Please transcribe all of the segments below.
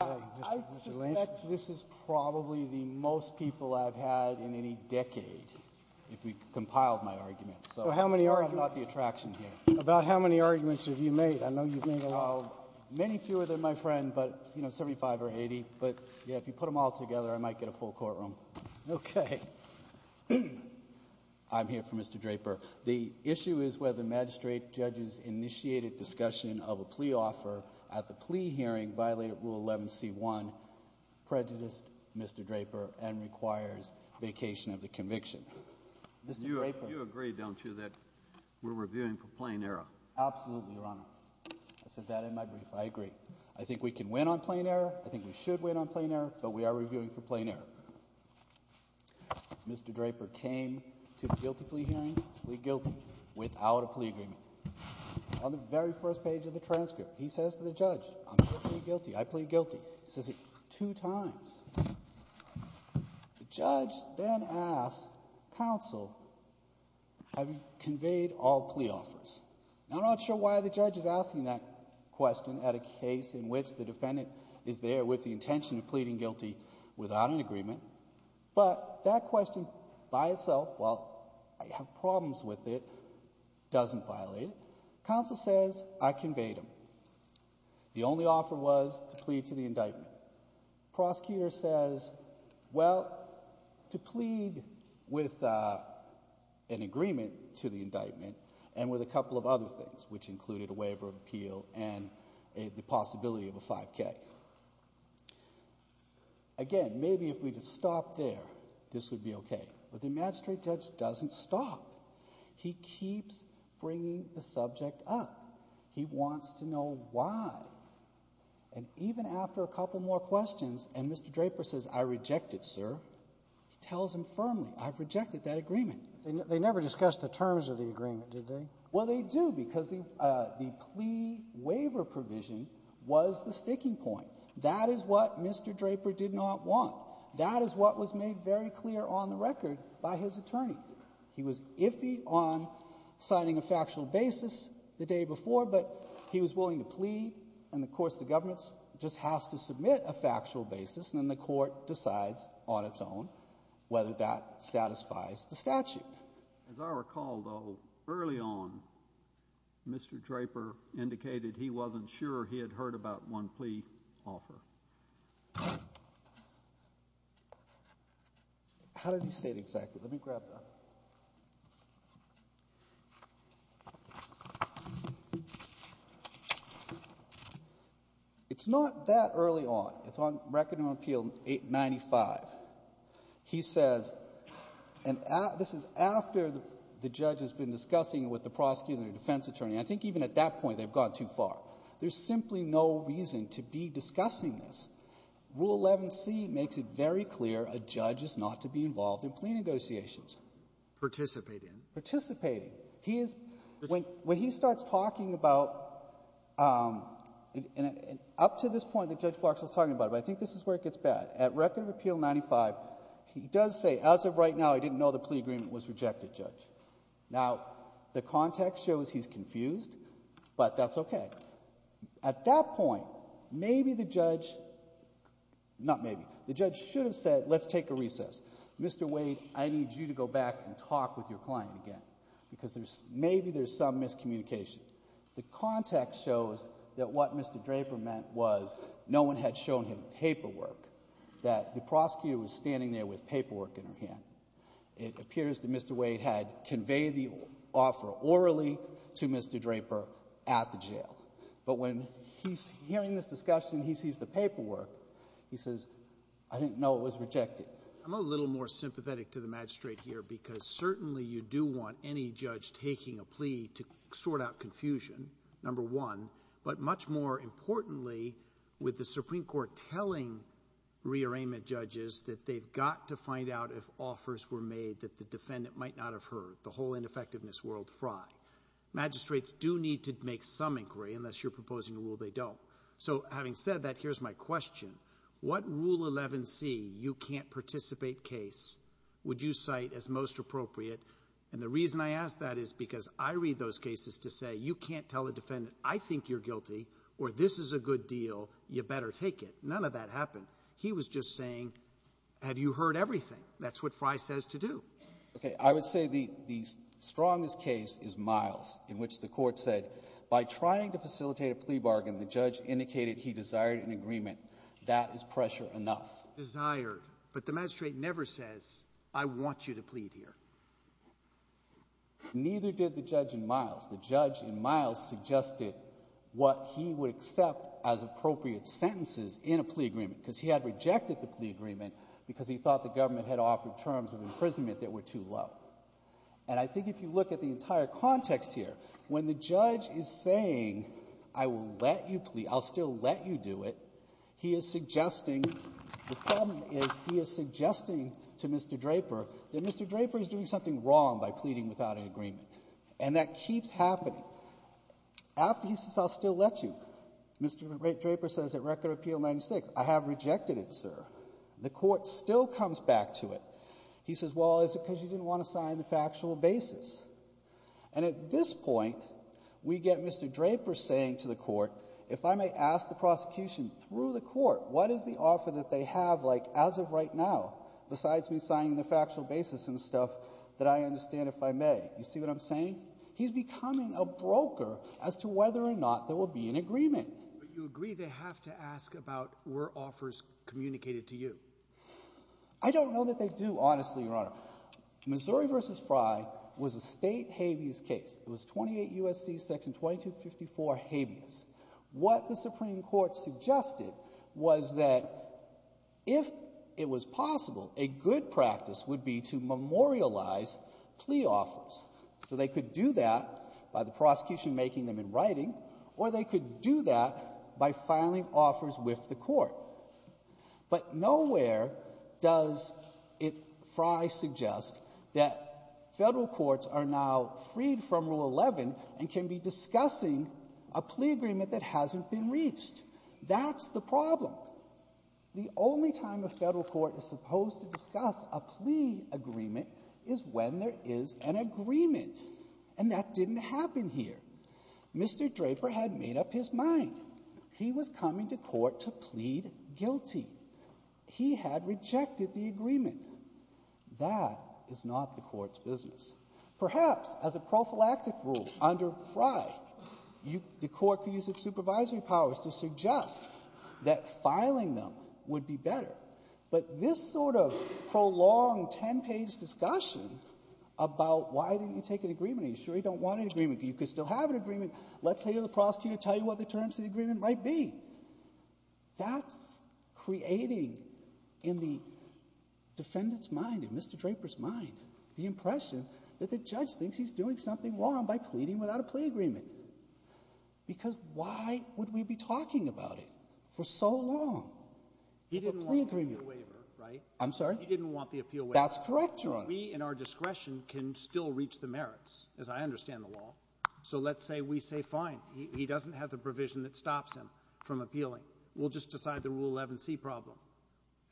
I suspect this is probably the most people I've had in any decade if we compiled my arguments. So how many are not the attraction here about how many arguments have you made? I know you've made a lot of many fewer than my friend, but you know, 75 or 80. But yeah, if you put them all together, I might get a full courtroom. OK, I'm here for Mr. Draper. The issue is whether magistrate judges initiated discussion of a plea offer at the plea hearing violated Rule 11 C1, prejudiced Mr. Draper and requires vacation of the conviction. You agree, don't you, that we're reviewing for plain error? Absolutely, Your Honor. I said that in my brief. I agree. I think we can win on plain error. I think we should win on plain error, but we are reviewing for plain error. Mr. Draper came to the guilty plea hearing, plea guilty, without a plea agreement. On the very first page of the transcript, he says to the judge, I'm going to plead guilty. I plead guilty. He says it two times. The judge then asks counsel, have you conveyed all plea offers? I'm not sure why the judge is asking that question at a case in which the defendant is there with the intention of pleading guilty without an agreement. But that question by itself, while I have problems with it, doesn't violate it. Counsel says I conveyed them. The only offer was to plead to the indictment. Prosecutor says, well, to plead with an agreement to the indictment and with a couple of other things, which included a waiver of appeal and the possibility of a 5K. Again, maybe if we could stop there, this would be okay. But the magistrate judge doesn't stop. He keeps bringing the subject up. He wants to know why. And even after a couple more questions, and Mr. Draper says, I reject it, sir, he tells him firmly, I've rejected that agreement. They never discussed the terms of the agreement, did they? Well, they do, because the plea waiver provision was the sticking point. That is what Mr. Draper did not want. That is what was made very clear on the record by his attorney. He was iffy on signing a factual basis the day before, but he was willing to plead. And of course, the government just has to submit a factual basis, and then the court decides on its own whether that satisfies the statute. As I recall, though, early on, Mr. Draper indicated he wasn't sure he had heard about one plea offer. How did he say it exactly? Let me grab that. It's not that early on. It's on Record and Appeal 895. He says, and this is after the judge has been discussing with the prosecutor and defense attorney, I think even at that point, they've gone too far. There's simply no reason to be discussing this. Rule 11C makes it very clear a judge is not to be involved in plea negotiations. Participate in? Participating. He is, when he starts talking about, and up to this point that Judge Clark was talking about, but I think this is where it gets bad. At Record and Appeal 95, he does say, as of right now, I didn't know the plea agreement was rejected, Judge. Now, the context shows he's confused, but that's okay. At that point, maybe the judge, not maybe, the judge should have said, let's take a recess. Mr. Wade, I need you to go back and talk with your client again, because maybe there's some miscommunication. The context shows that what Mr. Draper meant was no one had shown him paperwork, that the prosecutor was standing there with paperwork in her hand. It appears that Mr. Wade had conveyed the offer orally to Mr. Draper at the jail. But when he's hearing this discussion, he sees the paperwork, he says, I didn't know it was rejected. I'm a little more sympathetic to the magistrate here, because certainly you do want any judge taking a plea to sort out confusion, number one. But much more importantly, with the Supreme Court telling rearrangement judges that they've got to find out if offers were made, that the defendant might not have heard, the whole ineffectiveness world fry. Magistrates do need to make some inquiry, unless you're proposing a rule they don't. So having said that, here's my question. What Rule 11c, you can't participate case, would you cite as most appropriate? And the reason I ask that is because I read those cases to say, you can't tell a defendant, I think you're guilty, or this is a good deal, you better take it. None of that happened. He was just saying, have you heard everything? That's what Fry says to do. Okay, I would say the strongest case is Miles, in which the court said, by trying to facilitate a plea bargain, the judge indicated he desired an agreement. That is pressure enough. Desired, but the magistrate never says, I want you to plead here. Neither did the judge in Miles. The judge in Miles suggested what he would accept as appropriate sentences in a plea agreement. Because he had rejected the plea agreement, because he thought the government had offered terms of imprisonment that were too low. And I think if you look at the entire context here, when the judge is saying, I will let you plead, I'll still let you do it. He is suggesting, the problem is, he is suggesting to Mr. Draper that Mr. Draper is doing something wrong by pleading without an agreement. And that keeps happening. After he says, I'll still let you, Mr. Draper says, at Record Appeal 96, I have rejected it, sir. The court still comes back to it. He says, well, is it because you didn't want to sign the factual basis? And at this point, we get Mr. Draper saying to the court, if I may ask the prosecution through the court, what is the offer that they have as of right now, besides me signing the factual basis and stuff, that I understand if I may? You see what I'm saying? He's becoming a broker as to whether or not there will be an agreement. But you agree they have to ask about, were offers communicated to you? I don't know that they do, honestly, Your Honor. Missouri versus Frye was a state habeas case. It was 28 USC, section 2254, habeas. What the Supreme Court suggested was that if it was possible, a good practice would be to memorialize plea offers. So they could do that by the prosecution making them in writing, or they could do that by filing offers with the court. But nowhere does it, Frye suggests, that federal courts are now freed from Rule 11 and can be discussing a plea agreement that hasn't been reached. That's the problem. The only time a federal court is supposed to discuss a plea agreement is when there is an agreement. And that didn't happen here. Mr. Draper had made up his mind. He was coming to court to plead guilty. He had rejected the agreement. That is not the court's business. Perhaps, as a prophylactic rule under Frye, the court could use its supervisory powers to suggest that filing them would be better. But this sort of prolonged ten page discussion about why didn't you take an agreement, are you sure you don't want an agreement, you could still have an agreement, let's hear the prosecutor tell you what the terms of the agreement might be. That's creating in the defendant's mind, in Mr. Draper's mind, the impression that the judge thinks he's doing something wrong by pleading without a plea agreement. Because why would we be talking about it for so long? He didn't want the appeal waiver, right? I'm sorry? He didn't want the appeal waiver. That's correct, Your Honor. We, in our discretion, can still reach the merits, as I understand the law. So let's say we say, fine, he doesn't have the provision that stops him from appealing. We'll just decide the Rule 11c problem.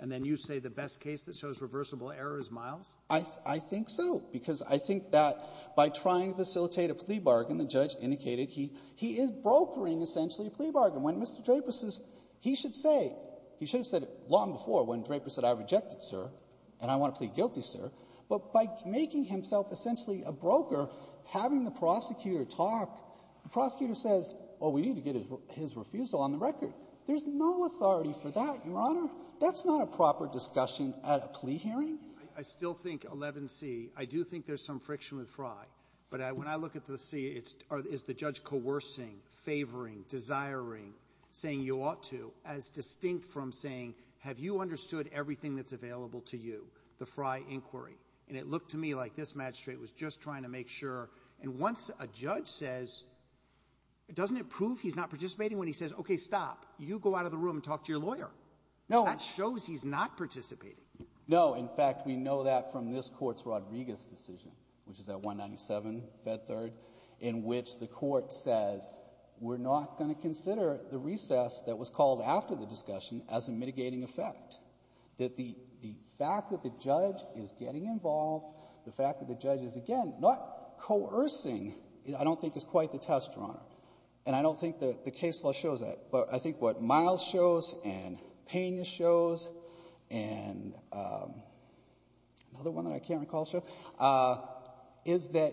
And then you say the best case that shows reversible error is Miles? I think so, because I think that by trying to facilitate a plea bargain, the judge indicated he is brokering, essentially, a plea bargain. When Mr. Draper says he should say, he should have said it long before when Draper said I rejected, sir, and I want to plead guilty, sir. But by making himself essentially a broker, having the prosecutor talk, the prosecutor says, well, we need to get his refusal on the record. There's no authority for that, Your Honor. That's not a proper discussion at a plea hearing. I still think 11c, I do think there's some friction with Frye. But when I look at the C, is the judge coercing, favoring, desiring, saying you ought to, as distinct from saying, have you understood everything that's available to you, the Frye inquiry? And it looked to me like this magistrate was just trying to make sure. And once a judge says, doesn't it prove he's not participating when he says, okay, stop. You go out of the room and talk to your lawyer. No. That shows he's not participating. No. In fact, we know that from this court's Rodriguez decision, which is at 197, Fed Third, in which the court says, we're not going to consider the recess that was called after the discussion as a mitigating effect. That the fact that the judge is getting involved, the fact that the judge is, again, not coercing, I don't think is quite the test, Your Honor. And I don't think that the case law shows that. But I think what Miles shows, and Pena shows, and another one that I can't recall, sure, is that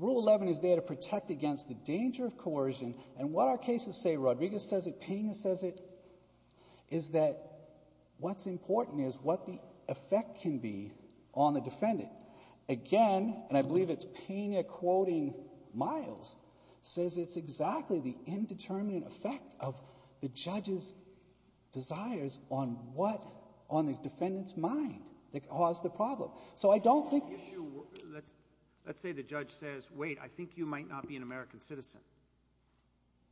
Rule 11 is there to protect against the danger of coercion. And what our cases say, Rodriguez says it, Pena says it, is that what's important is what the effect can be on the defendant. Again, and I believe it's Pena quoting Miles, says it's exactly the indeterminate effect of the judge's desires on what, on the defendant's mind, that caused the problem. So I don't think the issue, let's say the judge says, wait, I think you might not be an American citizen.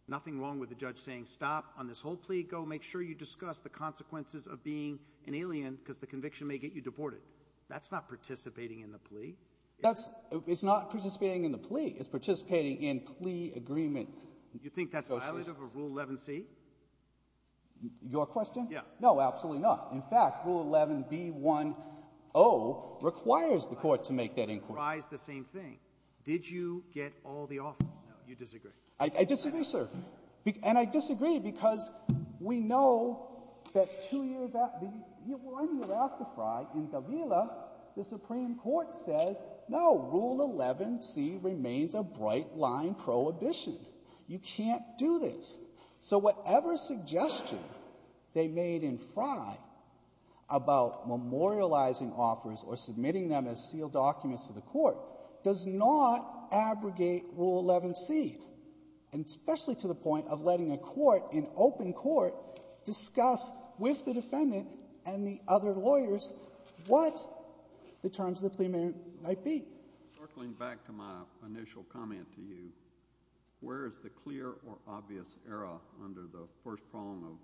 Nothing wrong with the judge saying, stop, on this whole plea, go make sure you discuss the consequences of being an alien, because the conviction may get you deported. That's not participating in the plea? That's, it's not participating in the plea. It's participating in plea agreement. You think that's violative of Rule 11c? Your question? Yeah. No, absolutely not. In fact, Rule 11b10 requires the court to make that inquiry. It requires the same thing. Did you get all the offer? You disagree. I disagree, sir. And I disagree because we know that two years after, one year after Frye, in Gavila, the Supreme Court says, no, Rule 11c remains a bright line prohibition. You can't do this. So whatever suggestion they made in Frye about memorializing offers or submitting them as sealed documents to the court does not abrogate Rule 11c. And especially to the point of letting a court, an open court, discuss with the defendant and the other lawyers what the terms of the plea might be. Circling back to my initial comment to you, where is the clear or obvious error under the first prong of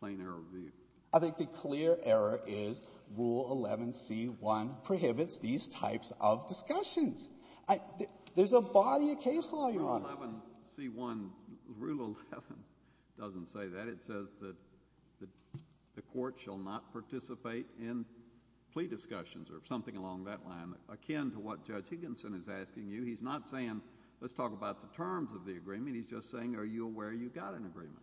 plain error view? I think the clear error is Rule 11c1 prohibits these types of discussions. There's a body of case law, Your Honor. Rule 11c1, Rule 11 doesn't say that. It says that the court shall not participate in plea discussions or something along that line, akin to what Judge Higginson is asking you. He's not saying, let's talk about the terms of the agreement. He's just saying, are you aware you've got an agreement?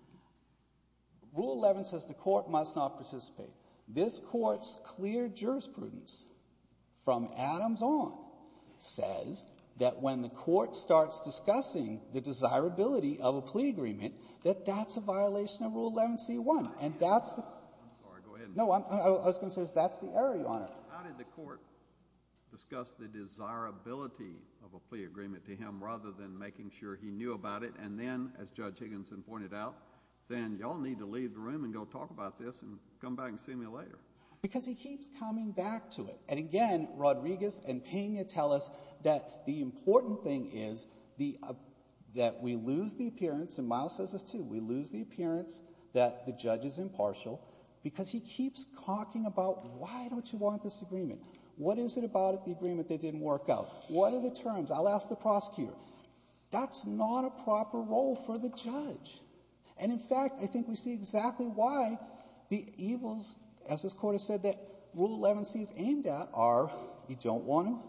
Rule 11 says the court must not participate. This court's clear jurisprudence from Adams on says that when the court starts discussing the desirability of a plea agreement, that that's a violation of Rule 11c1, and that's- I'm sorry, go ahead. No, I was going to say that's the error, Your Honor. How did the court discuss the desirability of a plea agreement to him, rather than making sure he knew about it, and then, as Judge Higginson pointed out, saying, y'all need to leave the room and go talk about this, and come back and see me later? Because he keeps coming back to it. And again, Rodriguez and Pena tell us that the important thing is that we lose the appearance, and Miles says this too, we lose the appearance that the judge is impartial, because he keeps talking about, why don't you want this agreement? What is it about the agreement that didn't work out? What are the terms? I'll ask the prosecutor. That's not a proper role for the judge. And in fact, I think we see exactly why the evils, as this court has said, that Rule 11c is aimed at are, you don't want to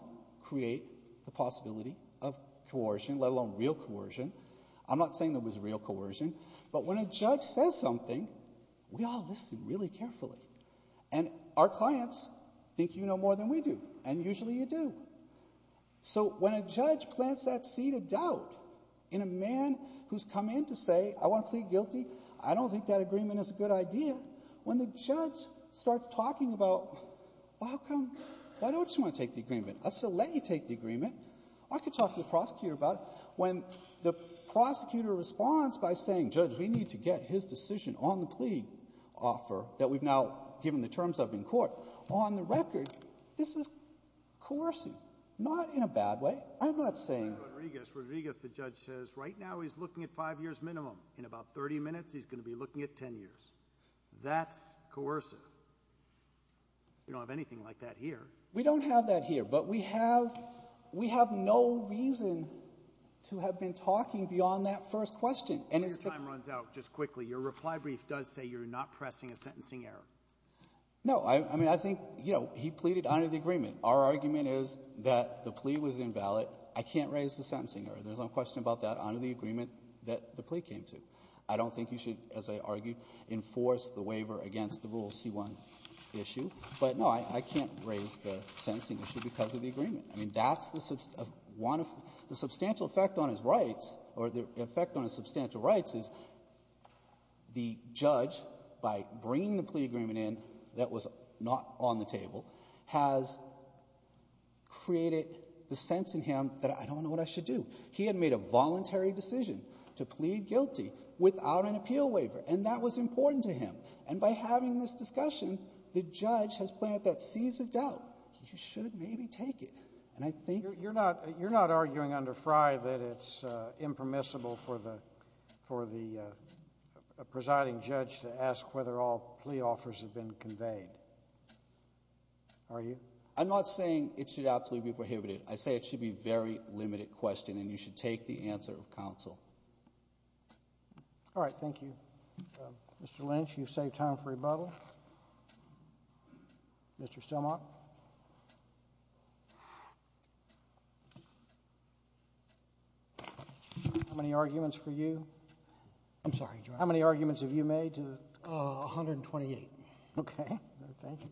create the possibility of coercion, let alone real coercion. I'm not saying there was real coercion, but when a judge says something, we all listen really carefully. And our clients think you know more than we do, and usually you do. So when a judge plants that seed of doubt in a man who's come in to say, I want to plead guilty, I don't think that agreement is a good idea. When the judge starts talking about, well, how come? I don't just want to take the agreement. I'll still let you take the agreement. I could talk to the prosecutor about it. When the prosecutor responds by saying, judge, we need to get his decision on the plea offer that we've now given the terms of in court, on the record, this is coercion. Not in a bad way. I'm not saying- Rodriguez, Rodriguez, the judge says, right now he's looking at five years minimum. In about 30 minutes, he's going to be looking at 10 years. That's coercive. We don't have anything like that here. We don't have that here, but we have no reason to have been talking beyond that first question. And it's the- Your time runs out just quickly. Your reply brief does say you're not pressing a sentencing error. No. I mean, I think, you know, he pleaded under the agreement. Our argument is that the plea was invalid. I can't raise the sentencing error. There's no question about that under the agreement that the plea came to. I don't think you should, as I argued, enforce the waiver against the Rule C-1 issue. But, no, I can't raise the sentencing issue because of the agreement. I mean, that's the one of the substantial effect on his rights, or the effect on his The judge, by bringing the plea agreement in that was not on the table, has created the sense in him that, I don't know what I should do. He had made a voluntary decision to plead guilty without an appeal waiver, and that was important to him. And by having this discussion, the judge has planted that seed of doubt, you should maybe take it. And I think- You're not arguing under Frye that it's impermissible for the presiding judge to ask whether all plea offers have been conveyed, are you? I'm not saying it should absolutely be prohibited. I say it should be a very limited question, and you should take the answer of counsel. All right. Thank you. Mr. Lynch, you've saved time for rebuttal. Mr. Stilmop? How many arguments for you? I'm sorry, Your Honor. How many arguments have you made? 128. Okay. Thank you.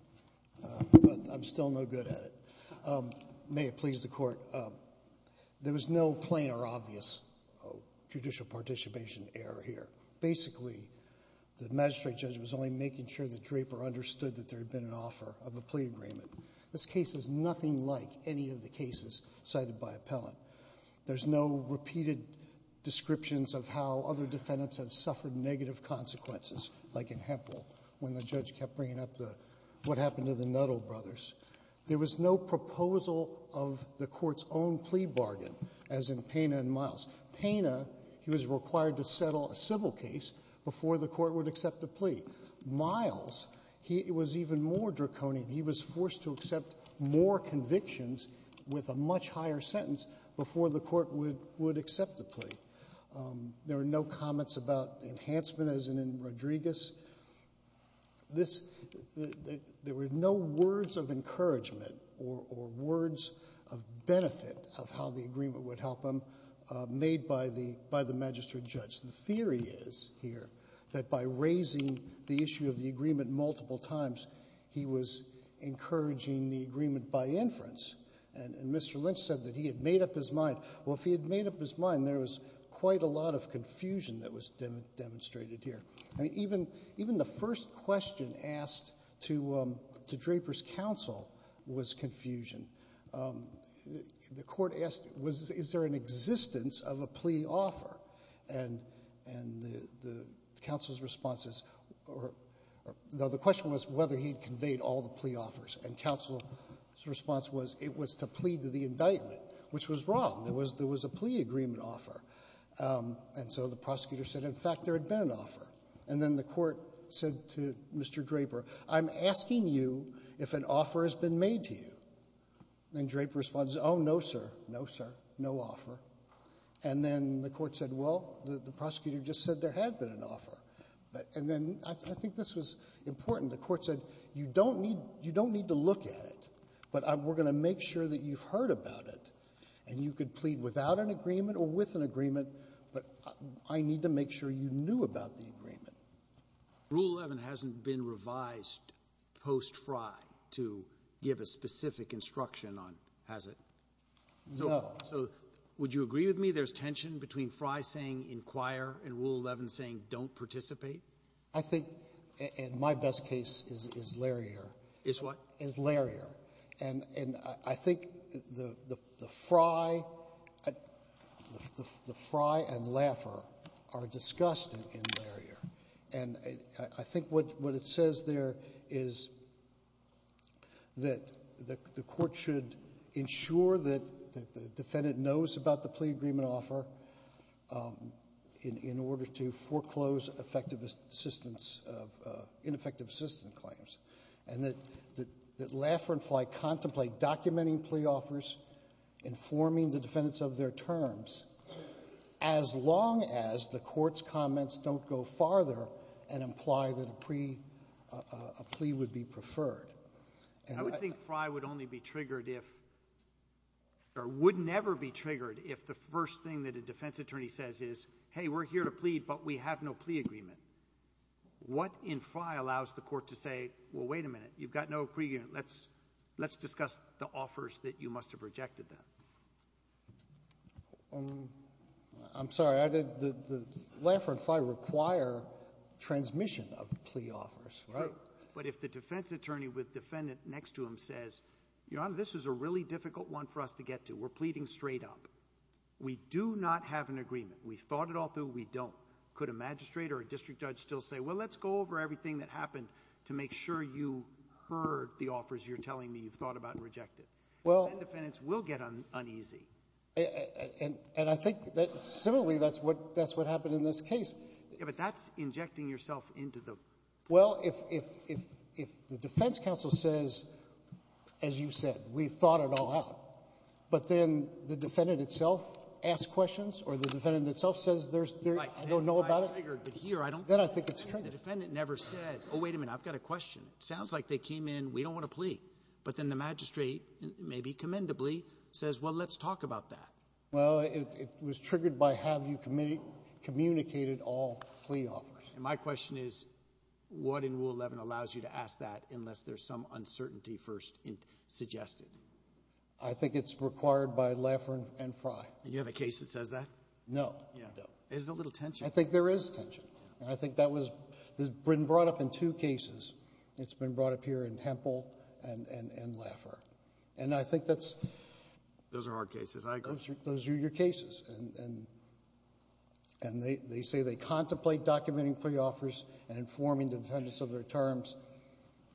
But I'm still no good at it. May it please the Court, there was no plain or obvious judicial participation error here. Basically, the magistrate judge was only making sure that Draper understood that there had been an offer of a plea agreement. This case is nothing like any of the cases cited by appellant. There's no repeated descriptions of how other defendants have suffered negative consequences, like in Hemphill, when the judge kept bringing up what happened to the Nuttall brothers. There was no proposal of the Court's own plea bargain, as in Pena and Miles. Pena, he was required to settle a civil case before the Court would accept a plea. Miles, he was even more draconian. He was forced to accept more convictions with a much higher sentence before the Court would accept the plea. There were no comments about enhancement, as in Rodriguez. There were no words of encouragement or words of benefit of how the agreement would help him made by the magistrate judge. The theory is here that by raising the issue of the agreement multiple times, he was encouraging the agreement by inference. And Mr. Lynch said that he had made up his mind. Well, if he had made up his mind, there was quite a lot of confusion that was demonstrated here. I mean, even the first question asked to Draper's counsel was confusion. The Court asked, is there an existence of a plea offer? And the counsel's response is, or the question was whether he'd conveyed all the plea offers. And counsel's response was it was to plead to the indictment, which was wrong. There was a plea agreement offer. And so the prosecutor said, in fact, there had been an offer. And then the Court said to Mr. Draper, I'm asking you if an offer has been made to you. And Draper responds, oh, no, sir. No, sir. No offer. And then the Court said, well, the prosecutor just said there had been an offer. And then I think this was important. The Court said, you don't need to look at it. But we're going to make sure that you've heard about it. And you could plead without an agreement or with an agreement. But I need to make sure you knew about the agreement. Rule 11 hasn't been revised post FRI to give a specific instruction on has it? No. So would you agree with me there's tension between FRI saying inquire and Rule 11 saying don't participate? I think, in my best case, is Larrier. Is what? Is Larrier. And I think the FRI and Laffer are discussed in Larrier. And I think what it says there is that the Court should ensure that the defendant knows about the plea agreement offer in order to foreclose ineffective assistance claims. And that Laffer and Fly contemplate documenting plea offers, informing the defendants of their terms, as long as the Court's comments don't go farther and imply that a plea would be preferred. I would think FRI would only be triggered if, or would never be triggered if the first thing that a defense attorney says is, hey, we're here to plead, but we have no plea agreement. What in FRI allows the court to say, well, wait a minute, you've got no plea agreement. Let's discuss the offers that you must have rejected them. I'm sorry, Laffer and Fly require transmission of plea offers, right? But if the defense attorney with defendant next to him says, Your Honor, this is a really difficult one for us to get to. We're pleading straight up. We do not have an agreement. We've thought it all through. We don't. Could a magistrate or a district judge still say, well, let's go over everything that happened to make sure you heard the offers you're telling me you've thought about and rejected? Well- Then defendants will get uneasy. And I think that similarly, that's what happened in this case. Yeah, but that's injecting yourself into the- Well, if the defense counsel says, as you said, we've thought it all out. But then the defendant itself asks questions, or the defendant itself says there's, I don't know about it. But here, I don't- Then I think it's true. The defendant never said, oh, wait a minute, I've got a question. Sounds like they came in, we don't want to plea. But then the magistrate, maybe commendably, says, well, let's talk about that. Well, it was triggered by have you communicated all plea offers. And my question is, what in Rule 11 allows you to ask that unless there's some uncertainty first suggested? I think it's required by Laffer and Frye. And you have a case that says that? No. Yeah. There's a little tension. I think there is tension. And I think that was brought up in two cases. It's been brought up here in Hempel and Laffer. And I think that's- Those are our cases, I agree. Those are your cases. And they say they contemplate documenting plea offers and informing the defendants of their terms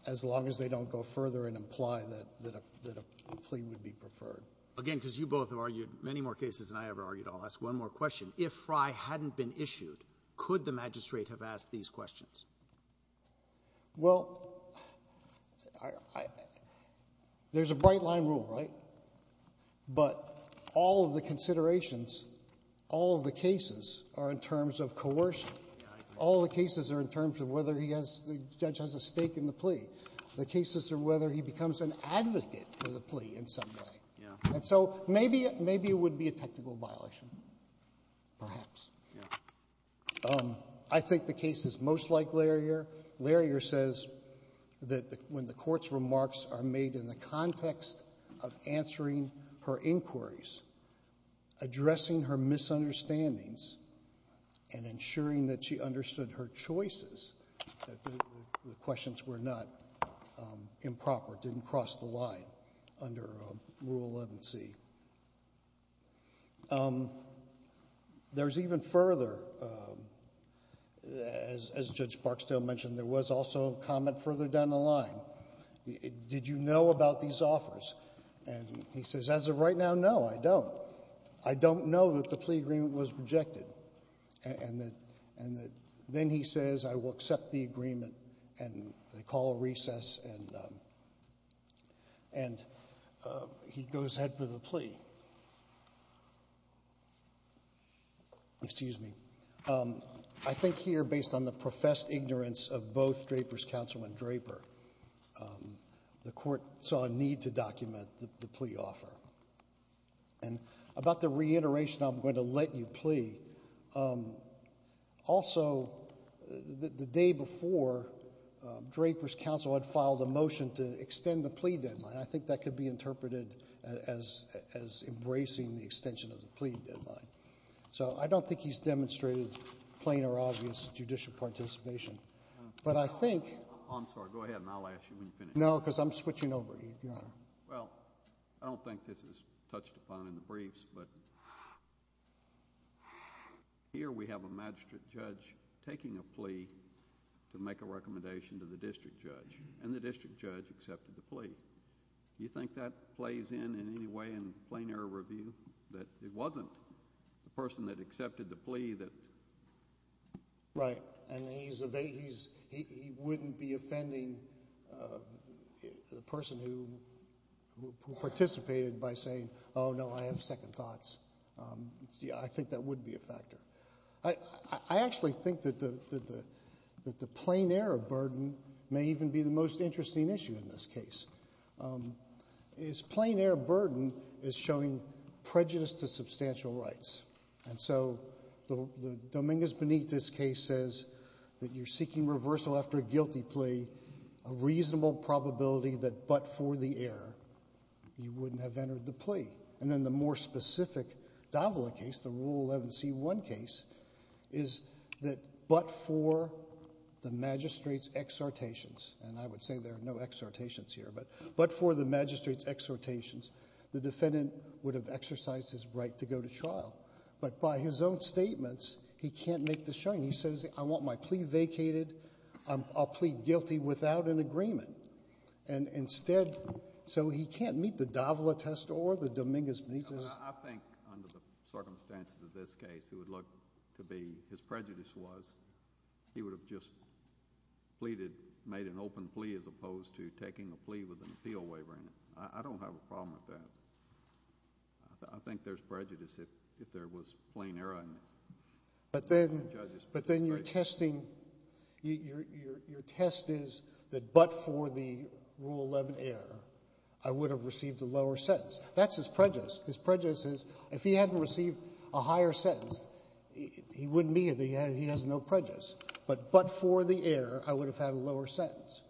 as long as they don't go further and imply that a plea would be preferred. Again, because you both have argued many more cases than I ever argued. I'll ask one more question. If Frye hadn't been issued, could the magistrate have asked these questions? Well, I — there's a bright-line rule, right? But all of the considerations, all of the cases are in terms of coercion. All of the cases are in terms of whether he has — the judge has a stake in the plea. The cases are whether he becomes an advocate for the plea in some way. Yeah. And so maybe it would be a technical violation, perhaps. I think the case is most like Larrier. Larrier says that when the court's remarks are made in the context of answering her inquiries, addressing her misunderstandings, and ensuring that she understood her choices, that the questions were not improper, didn't cross the line under a rule of law. That's what I would see. There's even further, as Judge Barksdale mentioned, there was also comment further down the line. Did you know about these offers? And he says, as of right now, no, I don't. I don't know that the plea agreement was rejected. And then he says, I will accept the agreement, and they call a recess, and he goes ahead with the plea. Excuse me. I think here, based on the professed ignorance of both Draper's counsel and Draper, the court saw a need to document the plea offer. And about the reiteration, I'm going to let you plea. Also, the day before, Draper's counsel had filed a motion to extend the plea deadline. I think that could be interpreted as embracing the extension of the plea deadline. So I don't think he's demonstrated plain or obvious judicial participation. I'm sorry, go ahead, and I'll ask you when you finish. No, because I'm switching over, Your Honor. Well, I don't think this is touched upon in the briefs, but here we have a magistrate judge taking a plea to make a recommendation to the district judge, and the district judge accepted the plea. Do you think that plays in, in any way, in plain error review, that it wasn't the person that accepted the plea that? Right. And he wouldn't be offending the person who participated by saying, oh, no, I have second thoughts. I think that would be a factor. I actually think that the plain error burden may even be the most interesting issue in this case. Is plain error burden is showing prejudice to substantial rights. And so the Dominguez-Benitez case says that you're seeking reversal after a guilty plea, a reasonable probability that but for the error, you wouldn't have entered the plea. And then the more specific Davila case, the Rule 11c1 case, is that but for the magistrate's exhortations, and I would say there are no exhortations here, but for the magistrate's exhortations, the defendant would have exercised his right to go to trial. But by his own statements, he can't make the showing. He says, I want my plea vacated. I'll plead guilty without an agreement. And instead, so he can't meet the Davila test or the Dominguez-Benitez. I think under the circumstances of this case, it would look to be, his prejudice was, he would have just pleaded, made an open plea as opposed to taking a plea with an appeal waiver in it. I don't have a problem with that. I think there's prejudice if there was plain error. But then you're testing, your test is that but for the Rule 11 error, I would have received a lower sentence. That's his prejudice. His prejudice is, if he hadn't received a higher sentence, he wouldn't be, he has no prejudice. But but for the error, I would have had a lower sentence.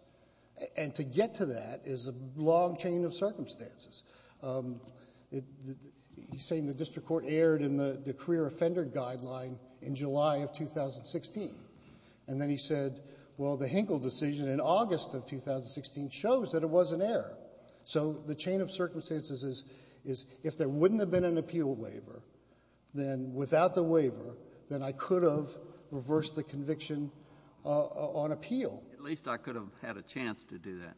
And to get to that is a long chain of circumstances. He's saying the district court erred in the career offender guideline in July of 2016. And then he said, well, the Hinkle decision in August of 2016 shows that it was an error. So the chain of circumstances is, if there wouldn't have been an appeal waiver, then without the waiver, then I could have reversed the conviction on appeal. At least I could have had a chance to do that.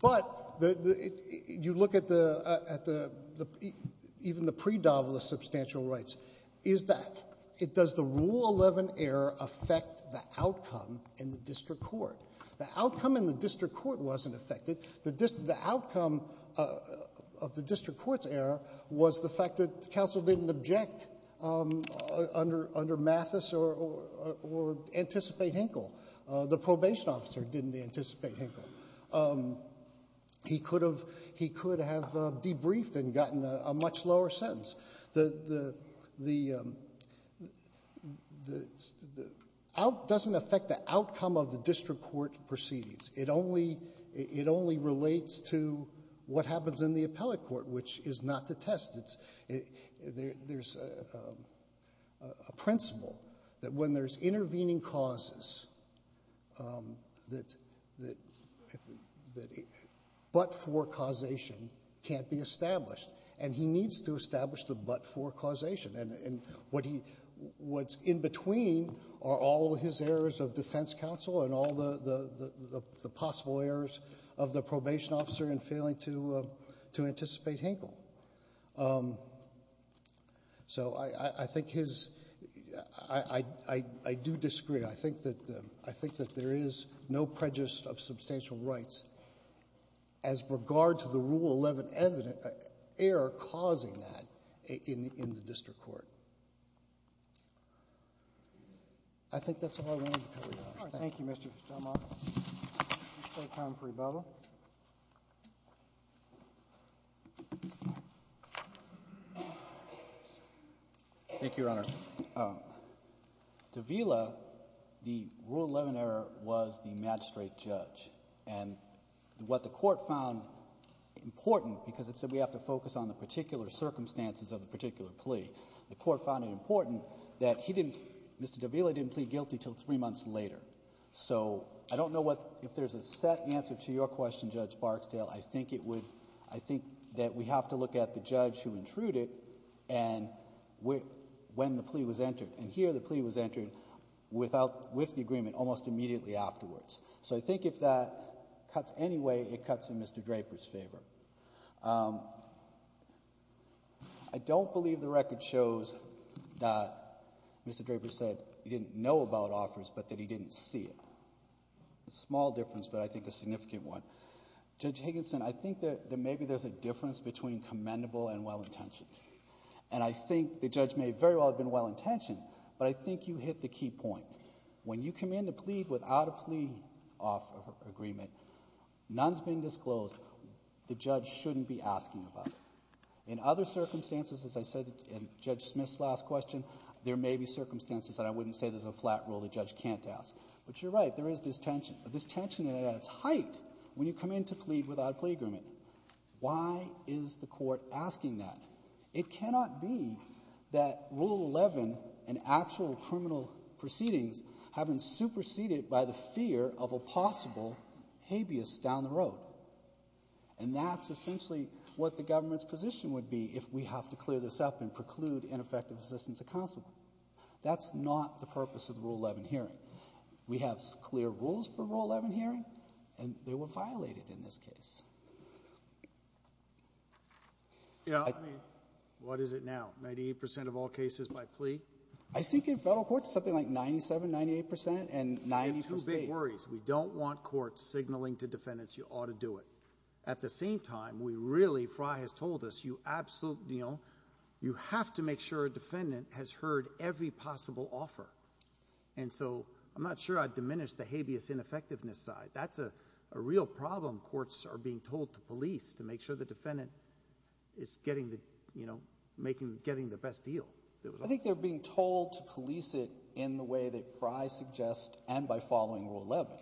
But you look at the, at the, even the pre-Davlis substantial rights, is that it does the Rule 11 error affect the outcome in the district court? The outcome in the district court wasn't affected. The outcome of the district court's error was the fact that counsel didn't object under Mathis or anticipate Hinkle. The probation officer didn't anticipate Hinkle. He could have, he could have debriefed and gotten a much lower sentence. The, the, the, the, the, the, out, doesn't affect the outcome of the district court proceedings. It only, it only relates to what happens in the appellate court, which is not the test. It's, there's a principle that when there's intervening causes that, that, that but-for causation can't be established. And he needs to establish the but-for causation. And, and what he, what's in between are all his errors of defense counsel and all the, the, the possible errors of the probation officer in failing to, to anticipate Hinkle. So, I, I, I think his, I, I, I, I do disagree. I think that the, I think that there is no prejudice of substantial rights as regard to the Rule 11 evident error causing that in, in the district court. I think that's all I wanted to cover, Your Honor. Thank you. Thank you, Mr. Stelmach. Mr. Comfrey, Bible. Thank you, Your Honor. Davila, the Rule 11 error was the magistrate judge. And what the court found important, because it said we have to focus on the particular circumstances of the particular plea, the court found it important that he didn't, Mr. Davila didn't plead guilty until three months later. So, I don't know what, if there's a set answer to your question, Judge Barksdale, I think it would, I think that we have to look at the judge who intruded and when, when the plea was entered. And here the plea was entered without, with the agreement almost immediately afterwards. So, I think if that cuts any way, it cuts in Mr. Draper's favor. I don't believe the record shows that Mr. Draper said he didn't know about offers, but that he didn't see it. It's a small difference, but I think a significant one. Judge Higginson, I think that, that maybe there's a difference between commendable and well-intentioned. And I think the judge may very well have been well-intentioned, but I think you hit the key point. When you command a plea without a plea offer agreement, none's been disclosed, the judge shouldn't be asking about it. In other circumstances, as I said in Judge Smith's last question, there may be circumstances that I wouldn't say there's a flat rule the judge can't ask. But you're right, there is this tension, but this tension is at its height when you come in to plead without a plea agreement. Why is the court asking that? It cannot be that Rule 11 and actual criminal proceedings have been superseded by the fear of a possible habeas down the road. And that's essentially what the government's position would be if we have to clear this up and preclude ineffective assistance of counsel. That's not the purpose of the Rule 11 hearing. We have clear rules for Rule 11 hearing, and they were violated in this case. Yeah, I mean, what is it now? 98% of all cases by plea? I think in federal courts, something like 97%, 98%, and 90% for states. We have two big worries. We don't want courts signaling to defendants, you ought to do it. At the same time, we really, Frye has told us, you absolutely, you know, you have to make sure a defendant has heard every possible offer. And so, I'm not sure I'd diminish the habeas ineffectiveness side. That's a real problem courts are being told to police, to make sure the defendant is getting the, you know, making, getting the best deal. I think they're being told to police it in the way that Frye suggests and by following Rule 11.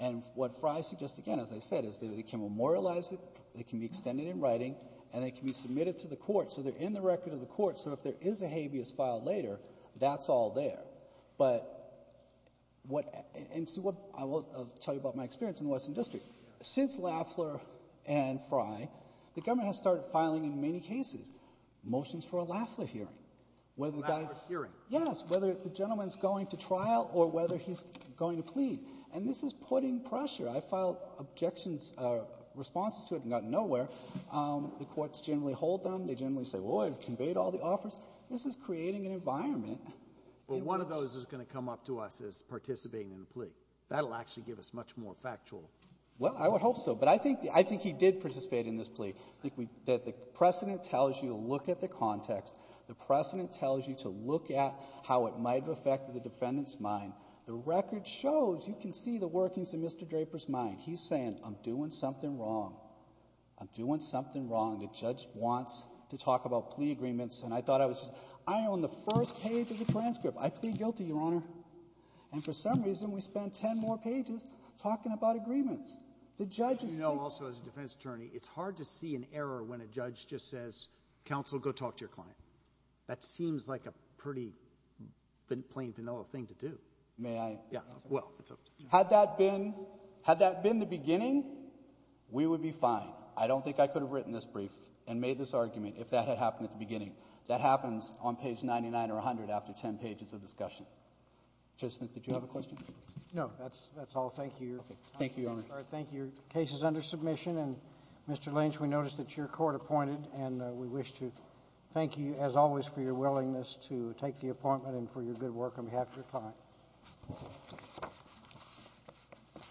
And what Frye suggests again, as I said, is that they can memorialize it, they can be extended in writing, and they can be submitted to the court. So, they're in the record of the court. So, if there is a habeas filed later, that's all there. But what, and see what, I will tell you about my experience in the Western District. Since Lafler and Frye, the government has started filing in many cases, motions for a Lafler hearing. Lafler hearing? Yes, whether the gentleman's going to trial or whether he's going to plead. And this is putting pressure. I filed objections, responses to it and got nowhere. The courts generally hold them. They generally say, well, I've conveyed all the offers. This is creating an environment. Well, one of those is going to come up to us as participating in the plea. That'll actually give us much more factual. Well, I would hope so. But I think, I think he did participate in this plea. I think that the precedent tells you to look at the context. The precedent tells you to look at how it might have affected the defendant's mind. The record shows, you can see the workings of Mr. Draper's mind. He's saying, I'm doing something wrong. I'm doing something wrong. The judge wants to talk about plea agreements. And I thought I was, I own the first page of the transcript. I plead guilty, Your Honor. And for some reason, we spend 10 more pages talking about agreements. The judge is saying. You know, also, as a defense attorney, it's hard to see an error when a judge just says, counsel, go talk to your client. That seems like a pretty plain, vanilla thing to do. May I? Yeah. Well, it's a. Had that been, had that been the beginning, we would be fine. I don't think I could have written this brief and made this argument if that had happened at the beginning. That happens on page 99 or 100 after 10 pages of discussion. Judge Smith, did you have a question? No, that's that's all. Thank you. Thank you, Your Honor. Thank you. Case is under submission. And Mr. Lynch, we noticed that your court appointed and we wish to thank you as always for your willingness to take the appointment and for your good work on behalf of your client.